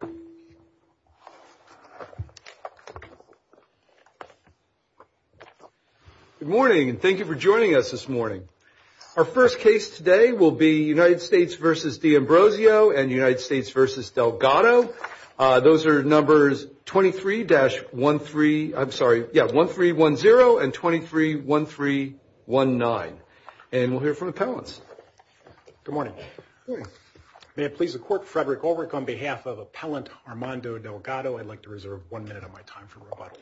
and United States versus Delgado. Those are numbers 23-13, I'm sorry, yeah, 1310 and 231319. And we'll hear from appellants. Good morning. Good morning. May it please the Court, Frederick Ulrich, on behalf of appellants, Armando Delgado, I'd like to reserve one minute of my time for rebuttal.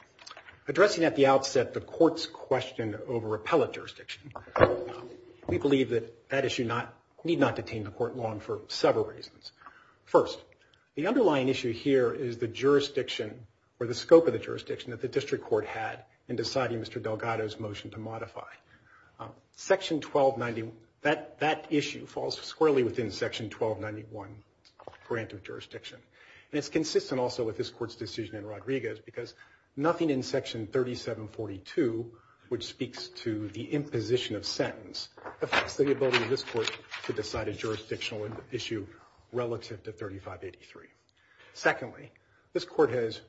Addressing at the outset the Court's question over appellate jurisdiction, we believe that that issue need not detain the Court long for several reasons. First, the underlying issue here is the jurisdiction or the scope of the jurisdiction that the District Court had in deciding Mr. Delgado's motion to modify. Section 1290, that is consistent also with this Court's decision in Rodriguez because nothing in Section 3742, which speaks to the imposition of sentence, affects the ability of this Court to decide a jurisdictional issue relative to 3583. Secondly, this Court has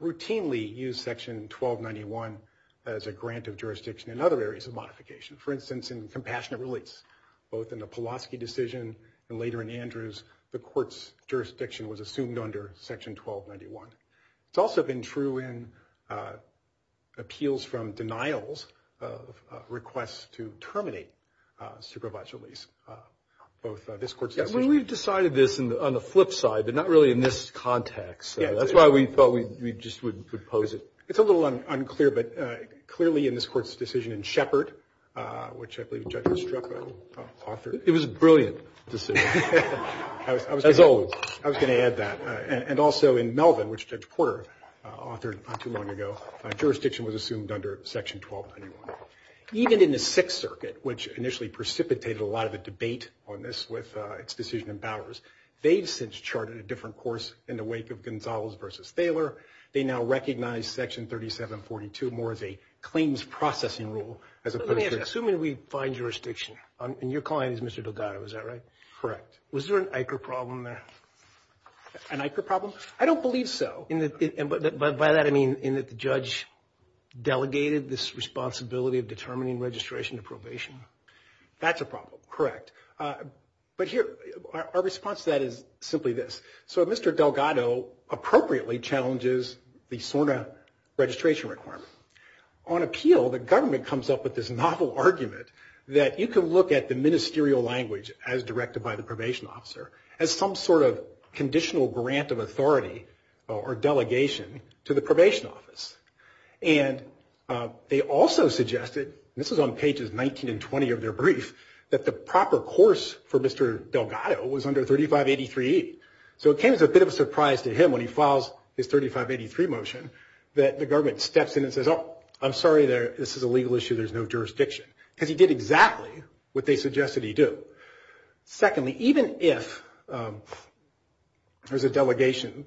routinely used Section 1291 as a grant of jurisdiction in other areas of modification. For instance, in compassionate release, both in the Pulaski decision and later in Section 1291. It's also been true in appeals from denials of requests to terminate supervised release, both this Court's decision. We've decided this on the flip side, but not really in this context. That's why we thought we just would pose it. It's a little unclear, but clearly in this Court's decision in Shepard, which I believe Judge Estrepo authored. It was a brilliant decision, as always. I was going to add that. And also in Melvin, which Judge Porter authored not too long ago, jurisdiction was assumed under Section 1291. Even in the Sixth Circuit, which initially precipitated a lot of the debate on this with its decision in Bowers, they've since charted a different course in the wake of Gonzales v. Thaler. They now recognize Section 3742 more as a claims processing rule as opposed to assuming we find jurisdiction. And your client is Mr. Delgado, is that right? Correct. Was there an ICER problem there? An ICER problem? I don't believe so. By that, I mean in that the judge delegated this responsibility of determining registration to probation. That's a problem, correct. But here, our response to that is simply this. So if Mr. Delgado appropriately challenges the SORNA registration requirement, on appeal, the government comes up with this novel argument that you can look at the ministerial language as directed by the probation officer as some sort of conditional grant of authority or delegation to the probation office. And they also suggested, this is on pages 19 and 20 of their brief, that the proper course for Mr. Delgado was under 3583E. So it came as a bit of a surprise to him when he files his 3583 motion that the government steps in and says, oh, I'm sorry, this is a legal issue, there's no jurisdiction. Because he did exactly what they suggested he do. Secondly, even if there's a delegation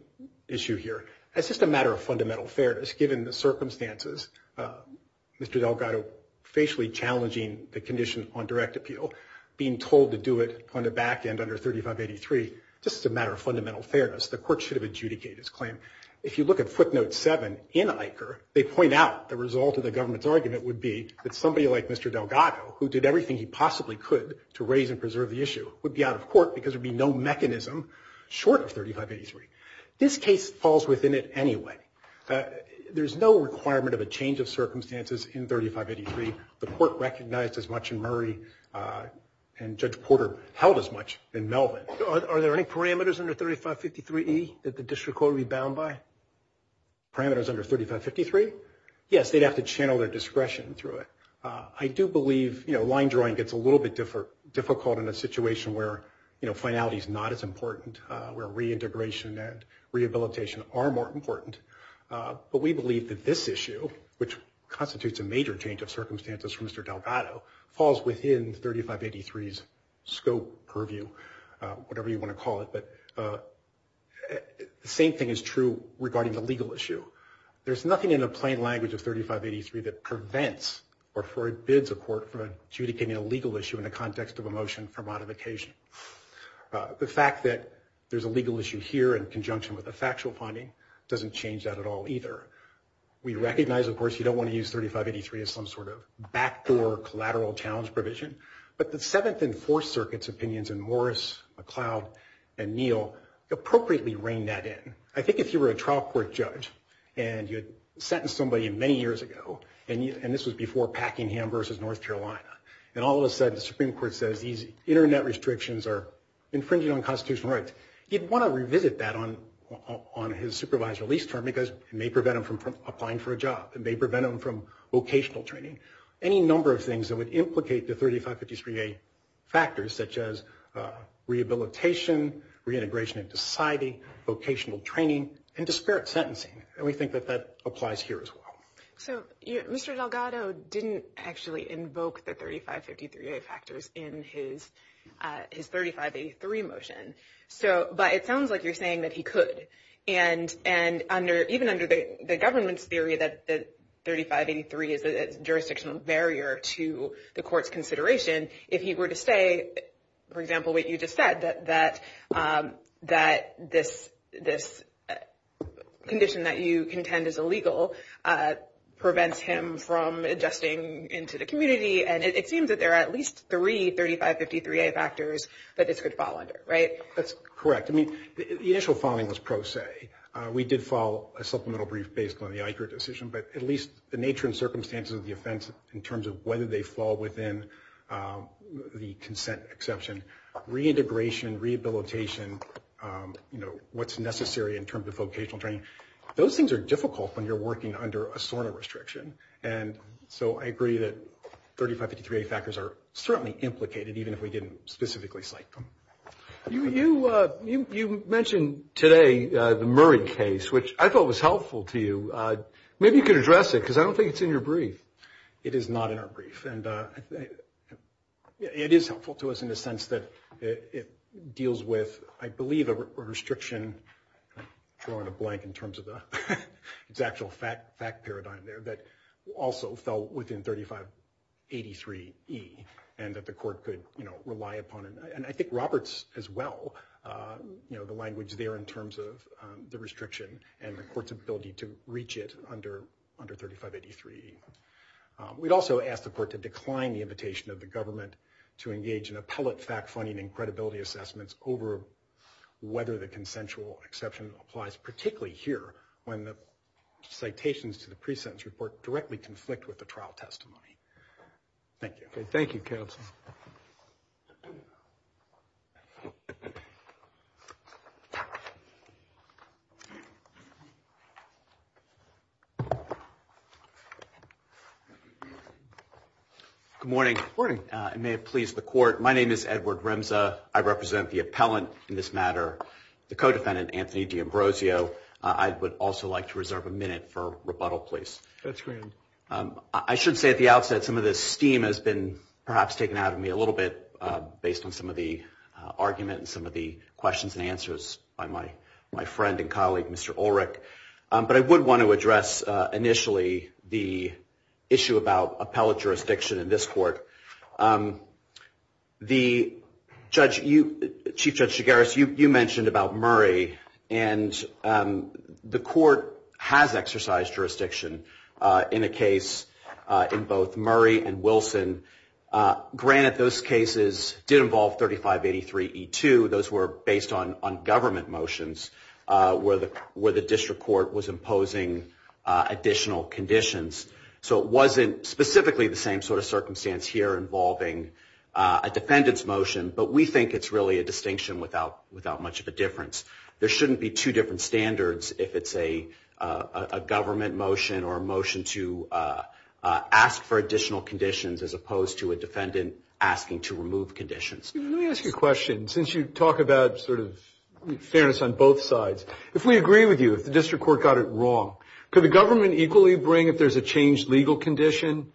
issue here, it's just a matter of fundamental fairness, given the circumstances, Mr. Delgado facially challenging the condition on direct appeal, being told to do it on the back end under 3583E, just as a matter of fundamental fairness, the court should have adjudicated his claim. If you look at footnote 7 in ICHR, they point out the result of the government's argument would be that somebody like Mr. Delgado, who did everything he possibly could to raise and preserve the issue, would be out of court because there would be no mechanism short of 3583E. This case falls within it anyway. There's no requirement of a change of circumstances in 3583. The court recognized as much in Murray, and Judge Porter held as much in Melvin. Are there any parameters under 3553E that the district court would be bound by? Parameters under 3553? Yes, they'd have to channel their discretion through it. I do believe line drawing gets a little bit difficult in a situation where finality is not as important, where reintegration and rehabilitation are more important. But we believe that this issue, which constitutes a major change of circumstances for Mr. Delgado, falls within 3583's scope purview, whatever you want to call it. But the same thing is true regarding the legal issue. There's nothing in the plain language of 3583 that prevents or forbids a court from adjudicating a legal issue in the context of a motion for modification. The fact that there's a legal issue here in conjunction with a factual finding doesn't change that at all either. We recognize, of course, you don't want to use 3583 as some sort of backdoor collateral challenge provision, but the Seventh and Fourth Circuit's opinions in Morris, McLeod, and Neal appropriately reign that in. I think if you were a trial court judge and you sentenced somebody many years ago, and this was before Packingham versus North Carolina, and all of a sudden the Supreme Court says these Internet restrictions are infringing on constitutional rights, you'd want to revisit that on his supervised release term because it may prevent him from applying for a job. It may prevent him from vocational training. Any number of things that would implicate the 3553A factors, such as rehabilitation, reintegration into society, vocational training, and disparate sentencing. And we think that that applies here as well. So Mr. Delgado didn't actually invoke the 3553A factors in his 3583 motion, but it sounds like you're saying that he could. And even under the government's theory that 3583 is a jurisdictional barrier to the court's consideration, if he were to say, for example, what you just said, that this condition that you contend is illegal prevents him from adjusting into the community, and it seems that there are at least three 3553A factors that this could fall under, right? That's correct. I mean, the initial filing was pro se. We did file a supplemental brief based on the ICRA decision, but at least the nature and circumstances of the offense in terms of whether they fall within the consent exception. Reintegration, rehabilitation, you know, what's necessary in terms of vocational training, those things are difficult when you're working under a SORNA restriction. And so I agree that 3553A factors are certainly implicated, even if we didn't specifically cite them. You mentioned today the Murray case, which I thought was helpful to you. Maybe you could address it because I don't think it's in your brief. It is not in our brief. And it is helpful to us in the sense that it deals with, I believe, a restriction, throw in a blank in terms of its actual fact paradigm there, that also fell within 3583E, and that the court could, you know, rely upon. And I think Robert's as well, you know, the language there in terms of the restriction and the court's ability to reach it under 3583E. We'd also ask the court to decline the invitation of the government to engage in appellate fact finding and credibility assessments over whether the consensual exception applies, particularly here when the citations to the pre-sentence report directly conflict with the trial testimony. Thank you. Thank you, counsel. Good morning. Good morning. It may have pleased the court. My name is Edward Rimza. I represent the appellant in this matter, the co-defendant, Anthony D'Ambrosio. I would also like to reserve a minute for rebuttal, please. That's great. I should say at the outset, some of this steam has been perhaps taken out of me a little bit based on some of the argument and some of the questions and answers by my friend and colleague, Mr. Ulrich. But I would want to address initially the issue about appellate jurisdiction in this court. Chief Judge Shigaris, you mentioned about Murray, and the court has exercised jurisdiction in a case in both Murray and Wilson. Granted, those cases did involve 3583E2. Those were based on government motions where the district court was imposing additional conditions. So it wasn't specifically the same sort of circumstance here involving a defendant's motion, but we think it's really a distinction without much of a difference. There shouldn't be two different standards if it's a government motion or a motion to ask for additional conditions as opposed to a defendant asking to remove conditions. Let me ask you a question. Since you talk about sort of fairness on both sides, if we agree with you, if the district court got it wrong, could the government equally bring if there's a changed legal condition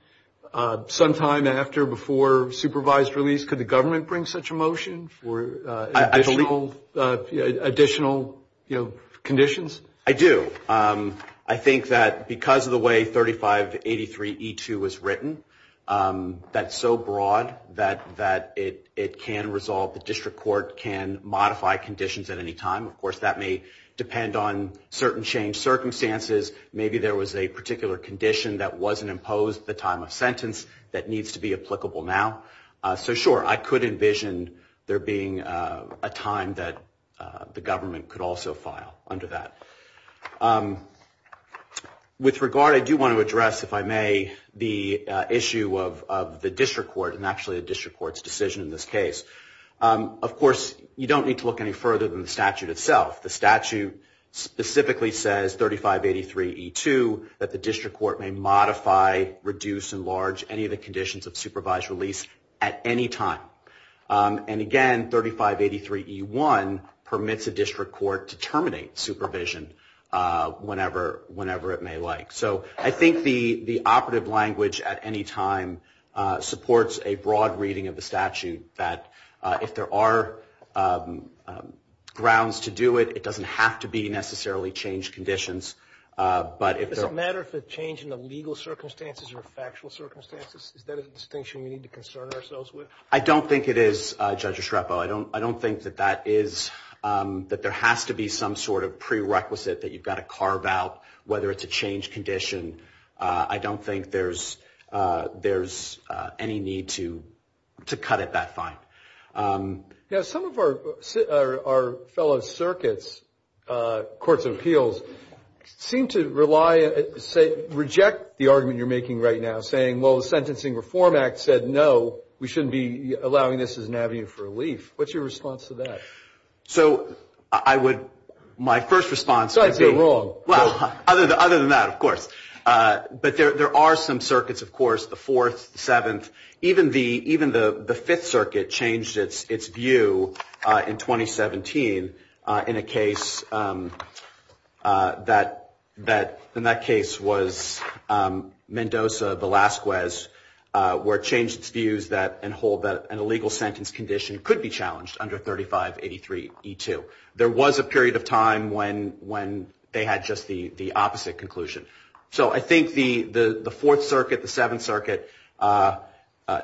sometime after, before supervised release? Could the government bring such a motion for additional conditions? I do. I think that because of the way 3583E2 was written, that's so broad that it can resolve. The district court can modify conditions at any time. Of course, that may depend on certain changed circumstances. Maybe there was a particular condition that wasn't imposed at the time of sentence that needs to be applicable now. So, sure, I could envision there being a time that the government could also file under that. With regard, I do want to address, if I may, the issue of the district court and actually the district court's decision in this case. Of course, you don't need to look any further than the statute itself. The statute specifically says, 3583E2, that the district court may modify, reduce, enlarge, any of the conditions of supervised release at any time. And again, 3583E1 permits a district court to terminate supervision whenever it may like. So, I think the operative language at any time supports a broad reading of the statute that if there are grounds to do it, it doesn't have to be necessarily changed conditions. Does it matter if it's a change in the legal circumstances or factual circumstances? Is that a distinction we need to concern ourselves with? I don't think it is, Judge Estrepo. I don't think that there has to be some sort of prerequisite that you've got to carve out, whether it's a change condition. I don't think there's any need to cut it that fine. Now, some of our fellow circuits, courts of appeals, seem to rely, say, reject the argument you're making right now, saying, well, the Sentencing Reform Act said no, we shouldn't be allowing this as an avenue for relief. What's your response to that? So, I would, my first response would be. You're wrong. Well, other than that, of course. But there are some circuits, of course, the Fourth, Seventh, even the Fifth Circuit changed its view in 2017 in a case that in that case was Mendoza-Velasquez, where it changed its views that an illegal sentence condition could be challenged under 3583E2. There was a period of time when they had just the opposite conclusion. So, I think the Fourth Circuit, the Seventh Circuit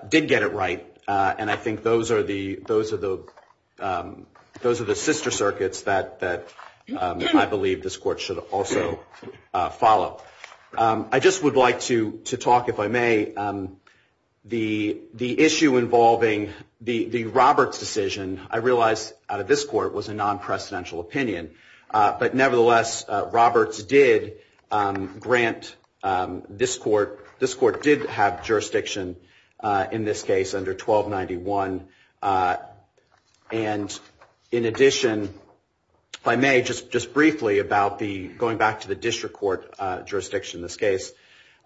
did get it right, and I think those are the sister circuits that I believe this Court should also follow. I just would like to talk, if I may, the issue involving the Roberts decision, I realize out of this Court it was a non-precedential opinion, but nevertheless Roberts did grant this Court, this Court did have jurisdiction in this case under 1291. And in addition, if I may, just briefly about going back to the district court jurisdiction in this case.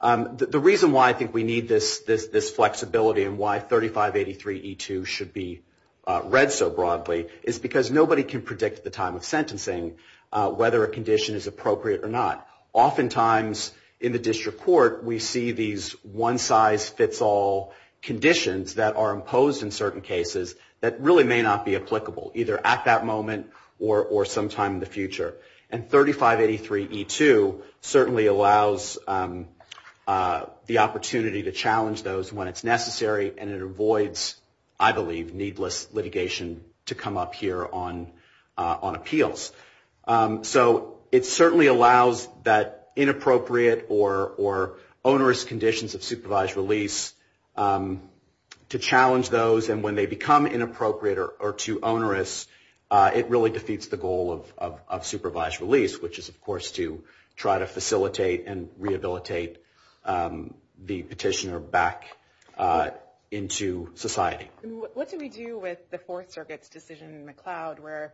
The reason why I think we need this flexibility and why 3583E2 should be read so broadly is because nobody can predict the time of sentencing, whether a condition is appropriate or not. Oftentimes in the district court we see these one-size-fits-all conditions that are imposed in certain cases that really may not be applicable, either at that moment or sometime in the future. And 3583E2 certainly allows the opportunity to challenge those when it's necessary and it avoids, I believe, needless litigation to come up here on appeals. So, it certainly allows that inappropriate or onerous conditions of supervised release to challenge those, and when they become inappropriate or too onerous, it really defeats the goal of supervised release, which is, of course, to try to facilitate and rehabilitate the petitioner back into society. What do we do with the Fourth Circuit's decision in McLeod where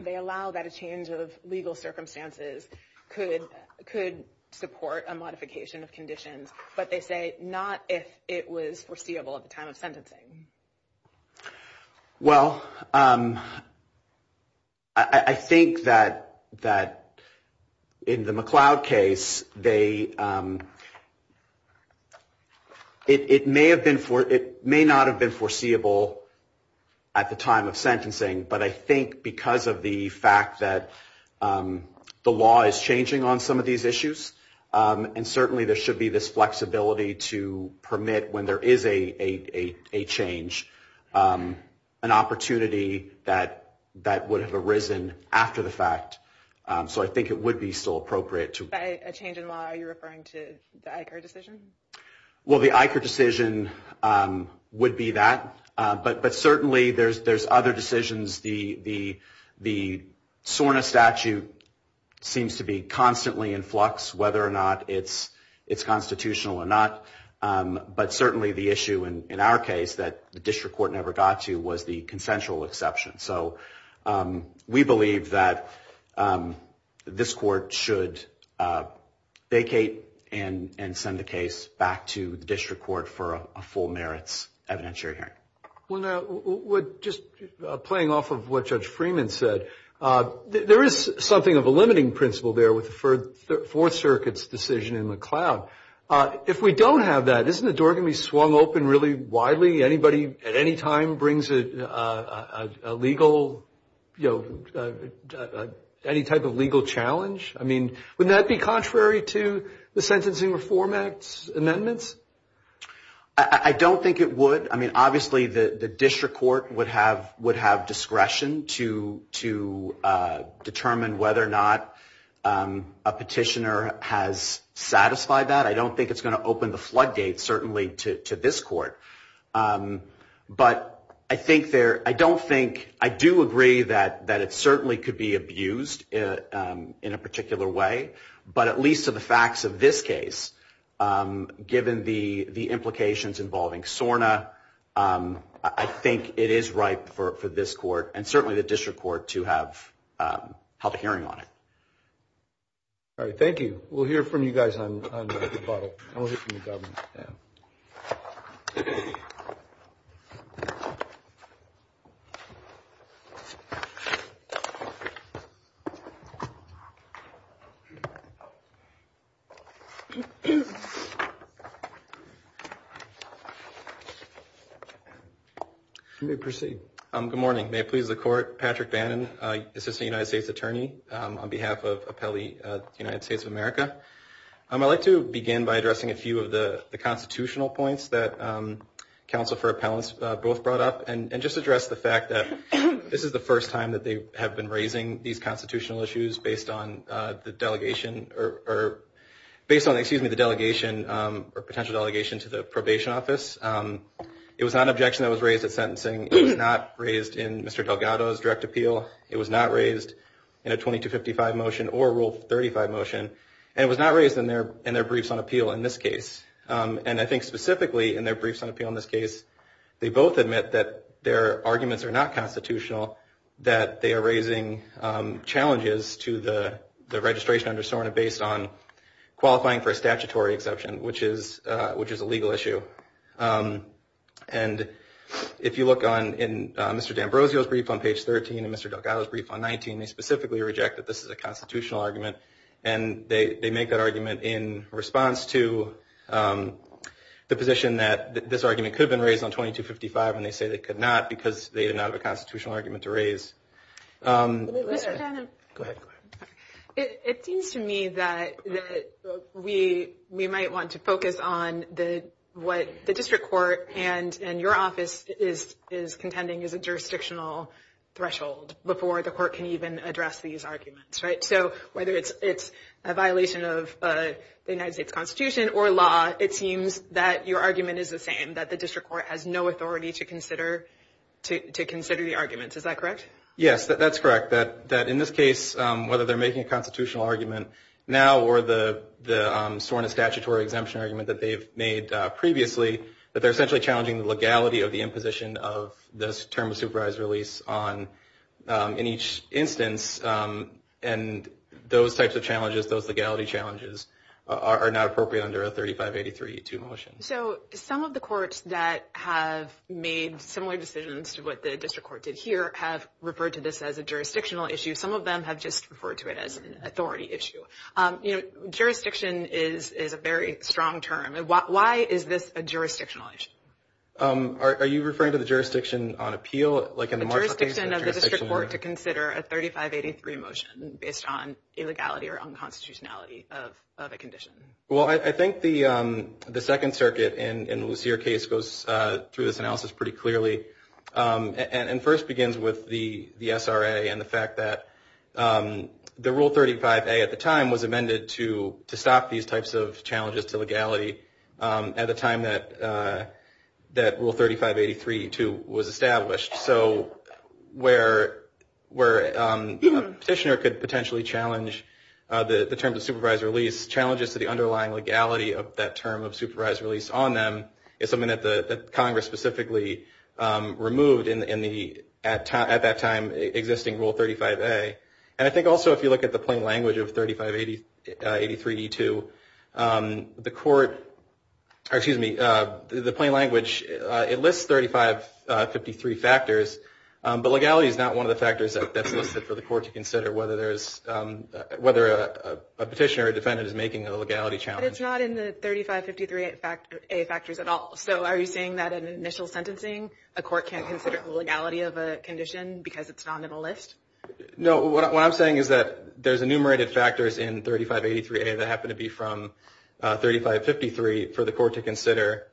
they allow that a change of legal circumstances could support a modification of conditions, but they say not if it was foreseeable at the time of sentencing? Well, I think that in the McLeod case, it may not have been foreseeable at the time of sentencing, but I think because of the fact that the law is changing on some of these issues, and certainly there should be this flexibility to permit when there is a change, an opportunity that would have arisen after the fact. So, I think it would be still appropriate to... By a change in law, are you referring to the Eicher decision? Well, the Eicher decision would be that, but certainly there's other decisions. The SORNA statute seems to be constantly in flux, whether or not it's constitutional or not, but certainly the issue in our case that the district court never got to was the consensual exception. So, we believe that this court should vacate and send the case back to the district court for a full merits evidentiary hearing. Well, now, just playing off of what Judge Freeman said, there is something of a limiting principle there with the Fourth Circuit's decision in McLeod. If we don't have that, isn't the door going to be swung open really widely? Anybody at any time brings a legal... any type of legal challenge? I mean, wouldn't that be contrary to the Sentencing Reform Act's amendments? I don't think it would. I mean, obviously the district court would have discretion to determine whether or not a petitioner has satisfied that. I don't think it's going to open the floodgates, certainly, to this court. But I think there... I don't think... I do agree that it certainly could be abused in a particular way, but at least to the facts of this case, given the implications involving SORNA, I think it is right for this court and certainly the district court to have held a hearing on it. All right. Thank you. We'll hear from you guys on the bottle. And we'll hear from the government. Yeah. You may proceed. Good morning. May it please the Court, Patrick Bannon, Assistant United States Attorney, on behalf of Appellee United States of America. I'd like to begin by addressing a few of the constitutional points that counsel for appellants both brought up and just address the fact that this is the first time that they have been raising these constitutional issues based on the delegation or... based on, excuse me, the delegation or potential delegation to the probation office. It was not an objection that was raised at sentencing. It was not raised in Mr. Delgado's direct appeal. It was not raised in a 2255 motion or Rule 35 motion. And it was not raised in their briefs on appeal in this case. And I think specifically in their briefs on appeal in this case, they both admit that their arguments are not constitutional, that they are raising challenges to the registration under SORNA based on qualifying for a statutory exception, which is a legal issue. And if you look on Mr. D'Ambrosio's brief on page 13 and Mr. Delgado's brief on 19, they specifically reject that this is a constitutional argument. And they make that argument in response to the position that this argument could have been raised on 2255 and they say they could not because they did not have a constitutional argument to raise. Go ahead. It seems to me that we might want to focus on what the district court and your office is contending is a jurisdictional threshold before the court can even address these arguments, right? So whether it's a violation of the United States Constitution or law, it seems that your argument is the same, that the district court has no authority to consider the arguments. Is that correct? Yes, that's correct, that in this case, whether they're making a constitutional argument now or the SORNA statutory exemption argument that they've made previously, that they're essentially challenging the legality of the imposition of this term of supervised release in each instance. And those types of challenges, those legality challenges, are not appropriate under a 3583-2 motion. So some of the courts that have made similar decisions to what the district court did here have referred to this as a jurisdictional issue. Some of them have just referred to it as an authority issue. Jurisdiction is a very strong term. Why is this a jurisdictional issue? Are you referring to the jurisdiction on appeal? The jurisdiction of the district court to consider a 3583 motion based on illegality or unconstitutionality of a condition. Well, I think the Second Circuit in Lucere's case goes through this analysis pretty clearly and first begins with the SRA and the fact that the Rule 35a at the time was amended to stop these types of challenges to legality at the time that Rule 3583-2 was established. So where a petitioner could potentially challenge the terms of supervised release, challenges to the underlying legality of that term of supervised release on them is something that Congress specifically removed at that time existing Rule 35a. And I think also if you look at the plain language of 3583-2, the plain language, it lists 3553 factors, but legality is not one of the factors that's listed for the court to consider whether a petitioner or defendant is making a legality challenge. But it's not in the 3553a factors at all. So are you saying that in initial sentencing a court can't consider the legality of a condition because it's not on the list? No. What I'm saying is that there's enumerated factors in 3583a that happen to be from 3553 for the court to consider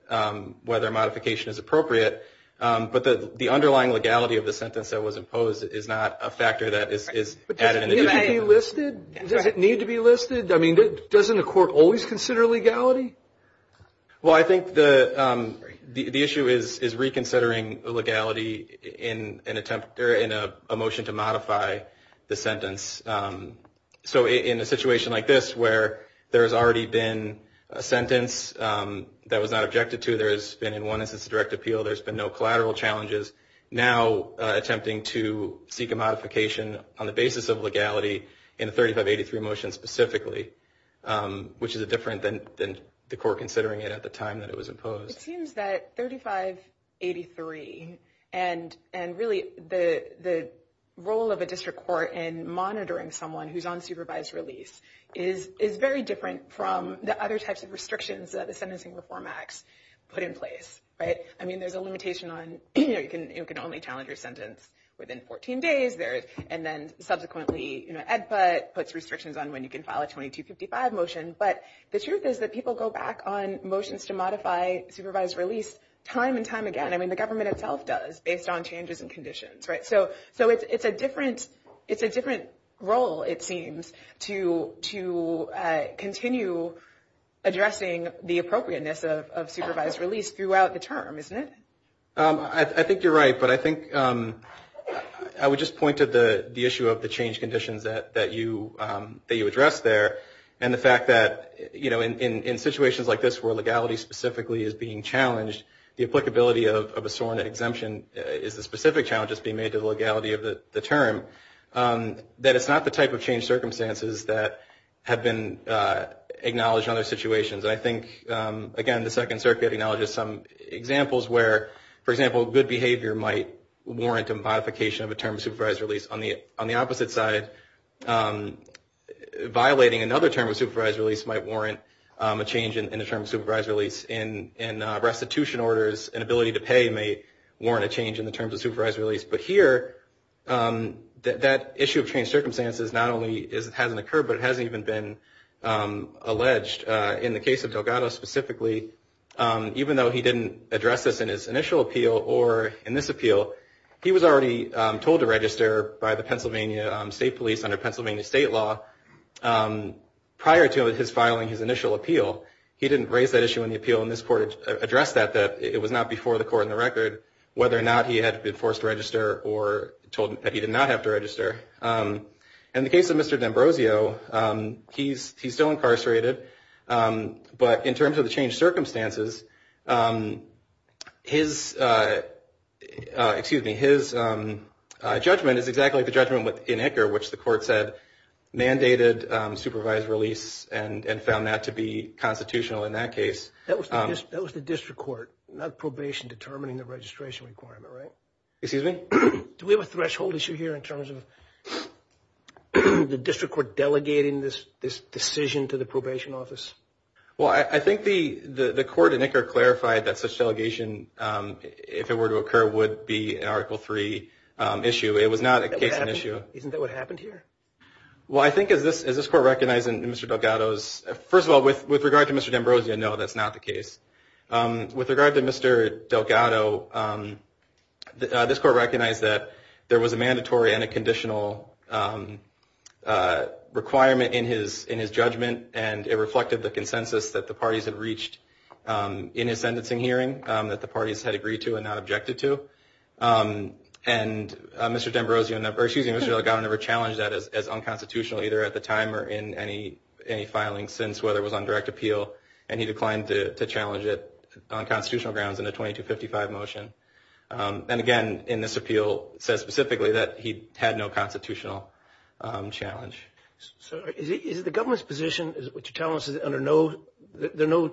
whether a modification is appropriate, but the underlying legality of the sentence that was imposed is not a factor that is added. But does it need to be listed? Does it need to be listed? I mean, doesn't the court always consider legality? Well, I think the issue is reconsidering legality in a motion to modify the sentence. So in a situation like this where there has already been a sentence that was not objected to, there has been in one instance a direct appeal, there's been no collateral challenges, now attempting to seek a modification on the basis of legality in the 3583 motion specifically, which is different than the court considering it at the time that it was imposed. It seems that 3583 and really the role of a district court in monitoring someone who's on supervised release is very different from the other types of restrictions that the Sentencing Reform Acts put in place. I mean, there's a limitation on you can only challenge your sentence within 14 days, and then subsequently EDPA puts restrictions on when you can file a 2255 motion. But the truth is that people go back on motions to modify supervised release time and time again. I mean, the government itself does based on changes in conditions, right? So it's a different role, it seems, to continue addressing the appropriateness of supervised release throughout the term, isn't it? I think you're right, but I think I would just point to the issue of the change conditions that you addressed there, and the fact that in situations like this where legality specifically is being challenged, the applicability of a sworn exemption is the specific challenge that's being made to the legality of the term, that it's not the type of change circumstances that have been acknowledged in other situations. I think, again, the Second Circuit acknowledges some examples where, for example, good behavior might warrant a modification of a term of supervised release. On the opposite side, violating another term of supervised release might warrant a change in a term of supervised release. And restitution orders and ability to pay may warrant a change in the terms of supervised release. But here, that issue of change circumstances not only hasn't occurred, but it hasn't even been alleged in the case of Delgado specifically. Even though he didn't address this in his initial appeal or in this appeal, he was already told to register by the Pennsylvania State Police under Pennsylvania state law prior to his filing his initial appeal. He didn't raise that issue in the appeal, and this court addressed that, that it was not before the court in the record whether or not he had been forced to register or told that he did not have to register. In the case of Mr. D'Ambrosio, he's still incarcerated. But in terms of the change circumstances, his judgment is exactly the judgment in Icker, which the court said mandated supervised release and found that to be constitutional in that case. That was the district court, not probation determining the registration requirement, right? Excuse me? Do we have a threshold issue here in terms of the district court delegating this decision to the probation office? Well, I think the court in Icker clarified that such delegation, if it were to occur, would be an Article III issue. It was not a case in issue. Isn't that what happened here? Well, I think as this court recognized in Mr. Delgado's – first of all, with regard to Mr. D'Ambrosio, no, that's not the case. With regard to Mr. Delgado, this court recognized that there was a mandatory and a conditional requirement in his judgment, and it reflected the consensus that the parties had reached in his sentencing hearing, that the parties had agreed to and not objected to. And Mr. Delgado never challenged that as unconstitutional, either at the time or in any filing since, whether it was on direct appeal. And he declined to challenge it on constitutional grounds in a 2255 motion. And again, in this appeal, it says specifically that he had no constitutional challenge. So is the government's position, what you're telling us, is there no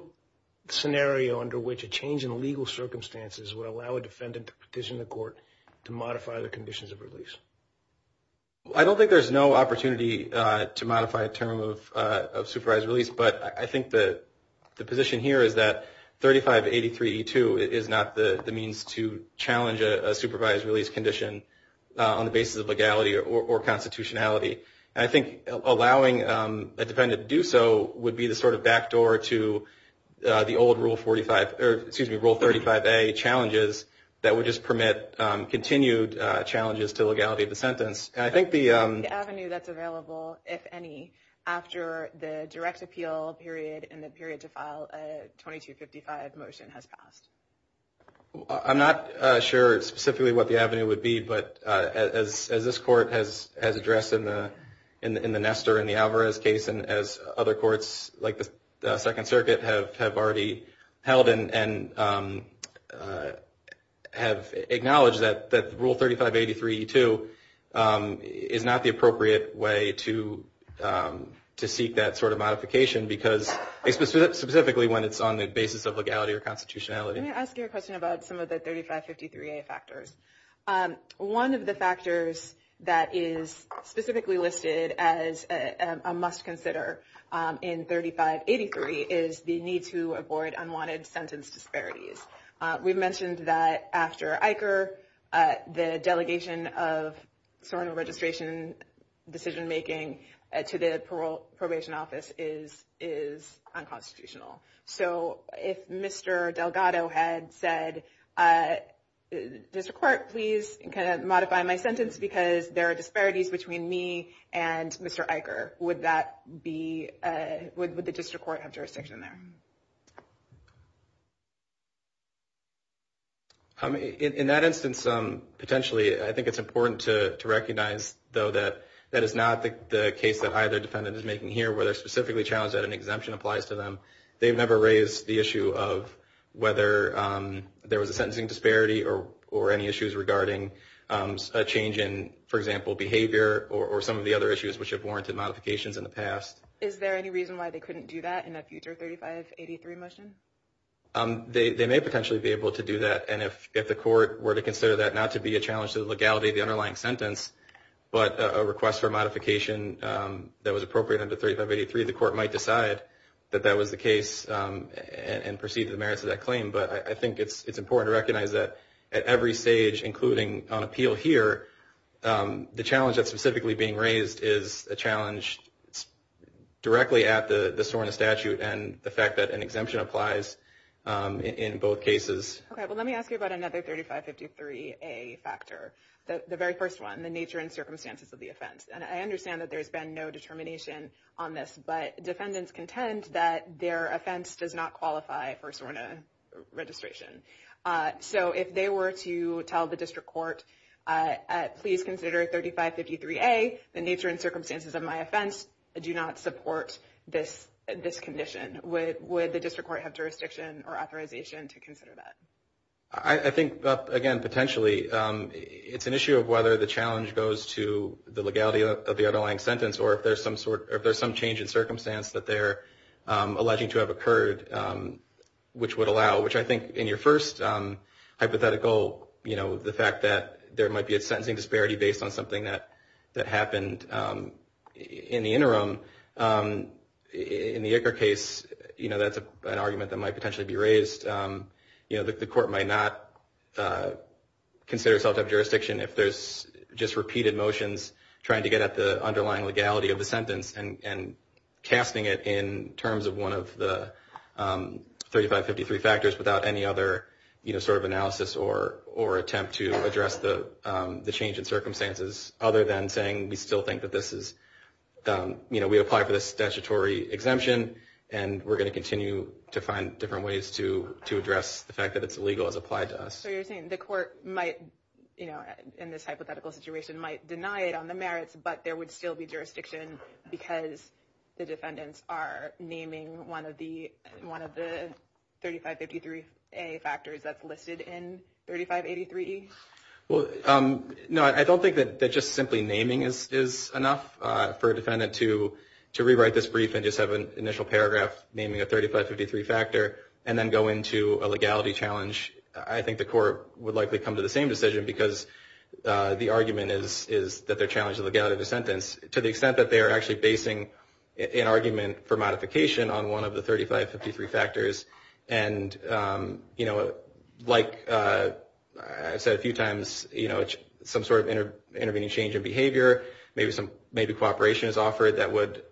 scenario under which a change in legal circumstances would allow a defendant to petition the court to modify the conditions of release? I don't think there's no opportunity to modify a term of supervised release, but I think the position here is that 3583E2 is not the means to challenge a supervised release condition on the basis of legality or constitutionality. And I think allowing a defendant to do so would be the sort of backdoor to the old Rule 35A challenges that would just permit continued challenges to legality of the sentence. I think the avenue that's available, if any, after the direct appeal period and the period to file a 2255 motion has passed. I'm not sure specifically what the avenue would be, but as this Court has addressed in the Nestor and the Alvarez case, and as other courts like the Second Circuit have already held and have acknowledged, that Rule 3583E2 is not the appropriate way to seek that sort of modification, because specifically when it's on the basis of legality or constitutionality. Let me ask you a question about some of the 3553A factors. One of the factors that is specifically listed as a must-consider in 3583 is the need to avoid unwanted sentence disparities. We've mentioned that after ICER, the delegation of Sovereign Registration decision-making to the Probation Office is unconstitutional. So if Mr. Delgado had said, District Court, please modify my sentence because there are disparities between me and Mr. Eicher, would the District Court have jurisdiction there? In that instance, potentially, I think it's important to recognize, though, that that is not the case that either defendant is making here, where they're specifically challenged that an exemption applies to them. They've never raised the issue of whether there was a sentencing disparity or any issues regarding a change in, for example, behavior, or some of the other issues which have warranted modifications in the past. Is there any reason why they couldn't do that in a future 3583 motion? They may potentially be able to do that, and if the court were to consider that not to be a challenge to the legality of the underlying sentence, but a request for modification that was appropriate under 3583, the court might decide that that was the case and proceed to the merits of that claim. But I think it's important to recognize that at every stage, including on appeal here, the challenge that's specifically being raised is a challenge directly at the SORNA statute and the fact that an exemption applies in both cases. Okay, well, let me ask you about another 3553A factor, the very first one, and the nature and circumstances of the offense. And I understand that there's been no determination on this, but defendants contend that their offense does not qualify for SORNA registration. So if they were to tell the district court, please consider 3553A, the nature and circumstances of my offense do not support this condition, would the district court have jurisdiction or authorization to consider that? I think, again, potentially. It's an issue of whether the challenge goes to the legality of the underlying sentence or if there's some change in circumstance that they're alleging to have occurred which would allow, which I think in your first hypothetical, you know, the fact that there might be a sentencing disparity based on something that happened in the interim, in the Icker case, you know, that's an argument that might potentially be raised. You know, the court might not consider itself to have jurisdiction if there's just repeated motions trying to get at the underlying legality of the sentence and casting it in terms of one of the 3553 factors without any other, you know, sort of analysis or attempt to address the change in circumstances, other than saying we still think that this is, you know, we apply for this statutory exemption and we're going to continue to find different ways to address the fact that it's illegal as applied to us. So you're saying the court might, you know, in this hypothetical situation, might deny it on the merits but there would still be jurisdiction because the defendants are naming one of the 3553A factors that's listed in 3583E? Well, no, I don't think that just simply naming is enough for a defendant to rewrite this brief and just have an initial paragraph naming a 3553 factor and then go into a legality challenge. I think the court would likely come to the same decision because the argument is that they're challenging legality of the sentence to the extent that they are actually basing an argument for modification on one of the 3553 factors. And, you know, like I said a few times, you know, some sort of intervening change in behavior, maybe cooperation is offered that would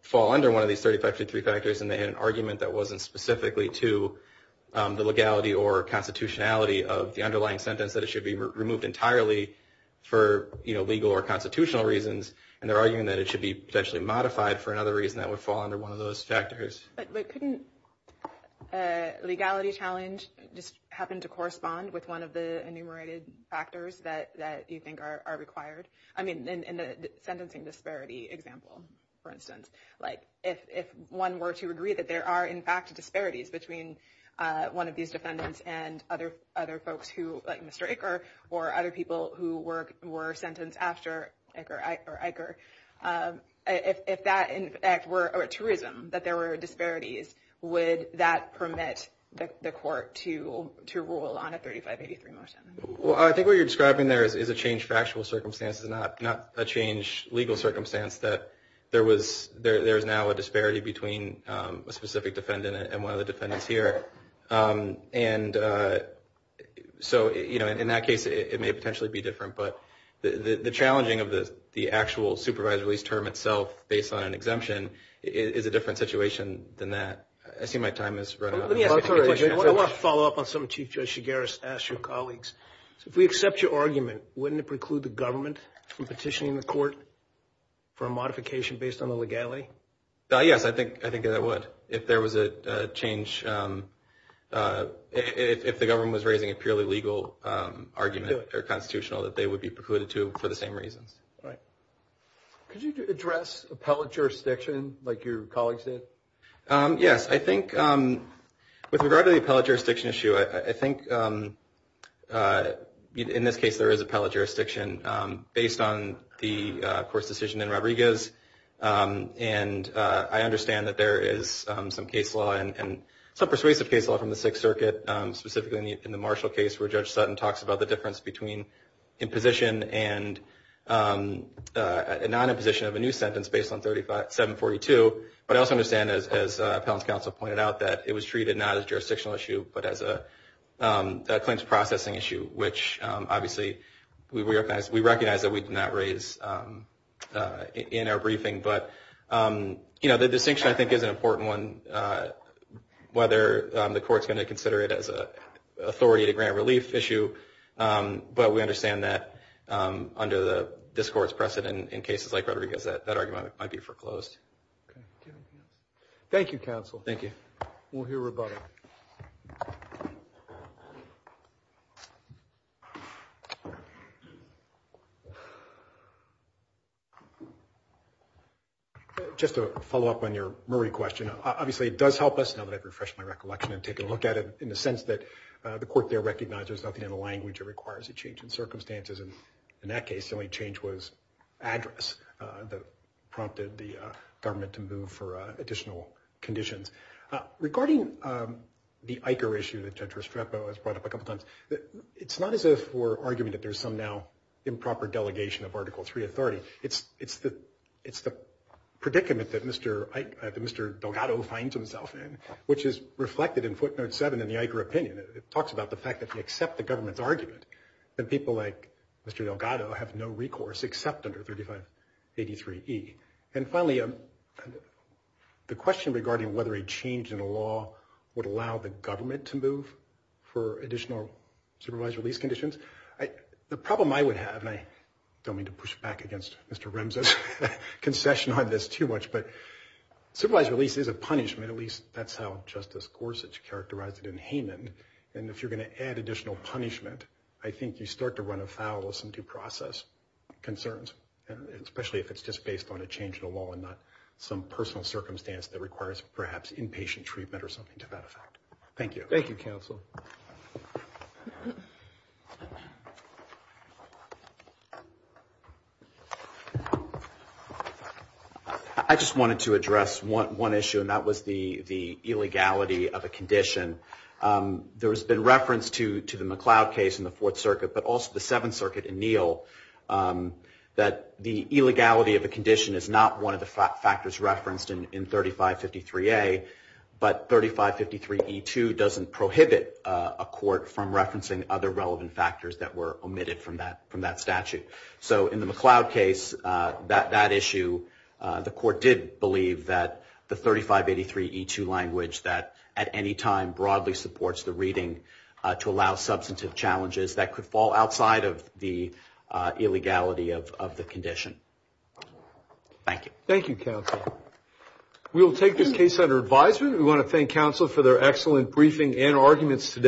fall under one of these 3553 factors and they had an argument that wasn't specifically to the legality or constitutionality of the underlying sentence that it should be removed entirely for, you know, legal or constitutional reasons. And they're arguing that it should be potentially modified for another reason that would fall under one of those factors. But couldn't legality challenge just happen to correspond with one of the enumerated factors that you think are required? I mean, in the sentencing disparity example, for instance, like if one were to agree that there are, in fact, disparities between one of these defendants and other folks who, like Mr. Icker or other people who were sentenced after Icker, if that, in fact, were a truism that there were disparities, would that permit the court to rule on a 3583 motion? Well, I think what you're describing there is a change for actual circumstances, not a change legal circumstance that there is now a disparity between a specific defendant and one of the defendants here. And so, you know, in that case, it may potentially be different. But the challenging of the actual supervised release term itself based on an exemption is a different situation than that. I see my time has run out. Let me ask a quick question. I want to follow up on something Chief Judge Shigaris asked your colleagues. If we accept your argument, wouldn't it preclude the government from petitioning the court for a modification based on the legality? Yes, I think that would if there was a change. If the government was raising a purely legal argument or constitutional that they would be precluded to for the same reasons. Right. Could you address appellate jurisdiction like your colleagues did? Yes. I think with regard to the appellate jurisdiction issue, I think in this case, there is appellate jurisdiction based on the court's decision in Rodriguez. And I understand that there is some case law and some persuasive case law from the Sixth Circuit, specifically in the Marshall case where Judge Sutton talks about the difference between imposition and non-imposition of a new sentence based on 742. But I also understand, as Appellant's Counsel pointed out, that it was treated not as a jurisdictional issue, but as a claims processing issue, which obviously we recognize that we did not raise in our briefing. But the distinction, I think, is an important one, whether the court is going to consider it as an authority to grant relief issue. But we understand that under this court's precedent in cases like Rodriguez, that argument might be foreclosed. Thank you, Counsel. Thank you. We'll hear about it. Just to follow up on your Murray question, obviously it does help us, now that I've refreshed my recollection and taken a look at it, in the sense that the court there recognizes there's nothing in the language that requires a change in circumstances. And in that case, the only change was address that prompted the government to move for additional conditions. Regarding the ICA issue that Judge Restrepo has brought up a couple times, it's not as if we're arguing that there's some now improper delegation of Article III authority. It's the predicament that Mr. Delgado finds himself in, which is reflected in footnote 7 in the ICA opinion. It talks about the fact that if you accept the government's argument, then people like Mr. Delgado have no recourse except under 3583E. And finally, the question regarding whether a change in the law would allow the government to move for additional supervised release conditions, the problem I would have, and I don't mean to push back against Mr. Remse's concession on this too much, but supervised release is a punishment. At least that's how Justice Gorsuch characterized it in Haman. And if you're going to add additional punishment, I think you start to run afoul of some due process concerns, especially if it's just based on a change in the law and not some personal circumstance that requires perhaps inpatient treatment or something to that effect. Thank you. Thank you, counsel. I just wanted to address one issue, and that was the illegality of a condition. There has been reference to the McLeod case in the Fourth Circuit, but also the Seventh Circuit in Neal, that the illegality of a condition is not one of the factors referenced in 3553A, but 3553E2 doesn't prohibit a court from referencing other relevant factors that were omitted from that statute. So in the McLeod case, that issue, the court did believe that the 3583E2 language that at any time broadly supports the reading to allow substantive challenges that could fall outside of the illegality of the condition. Thank you, counsel. We will take this case under advisement. We want to thank counsel for their excellent briefing and arguments today.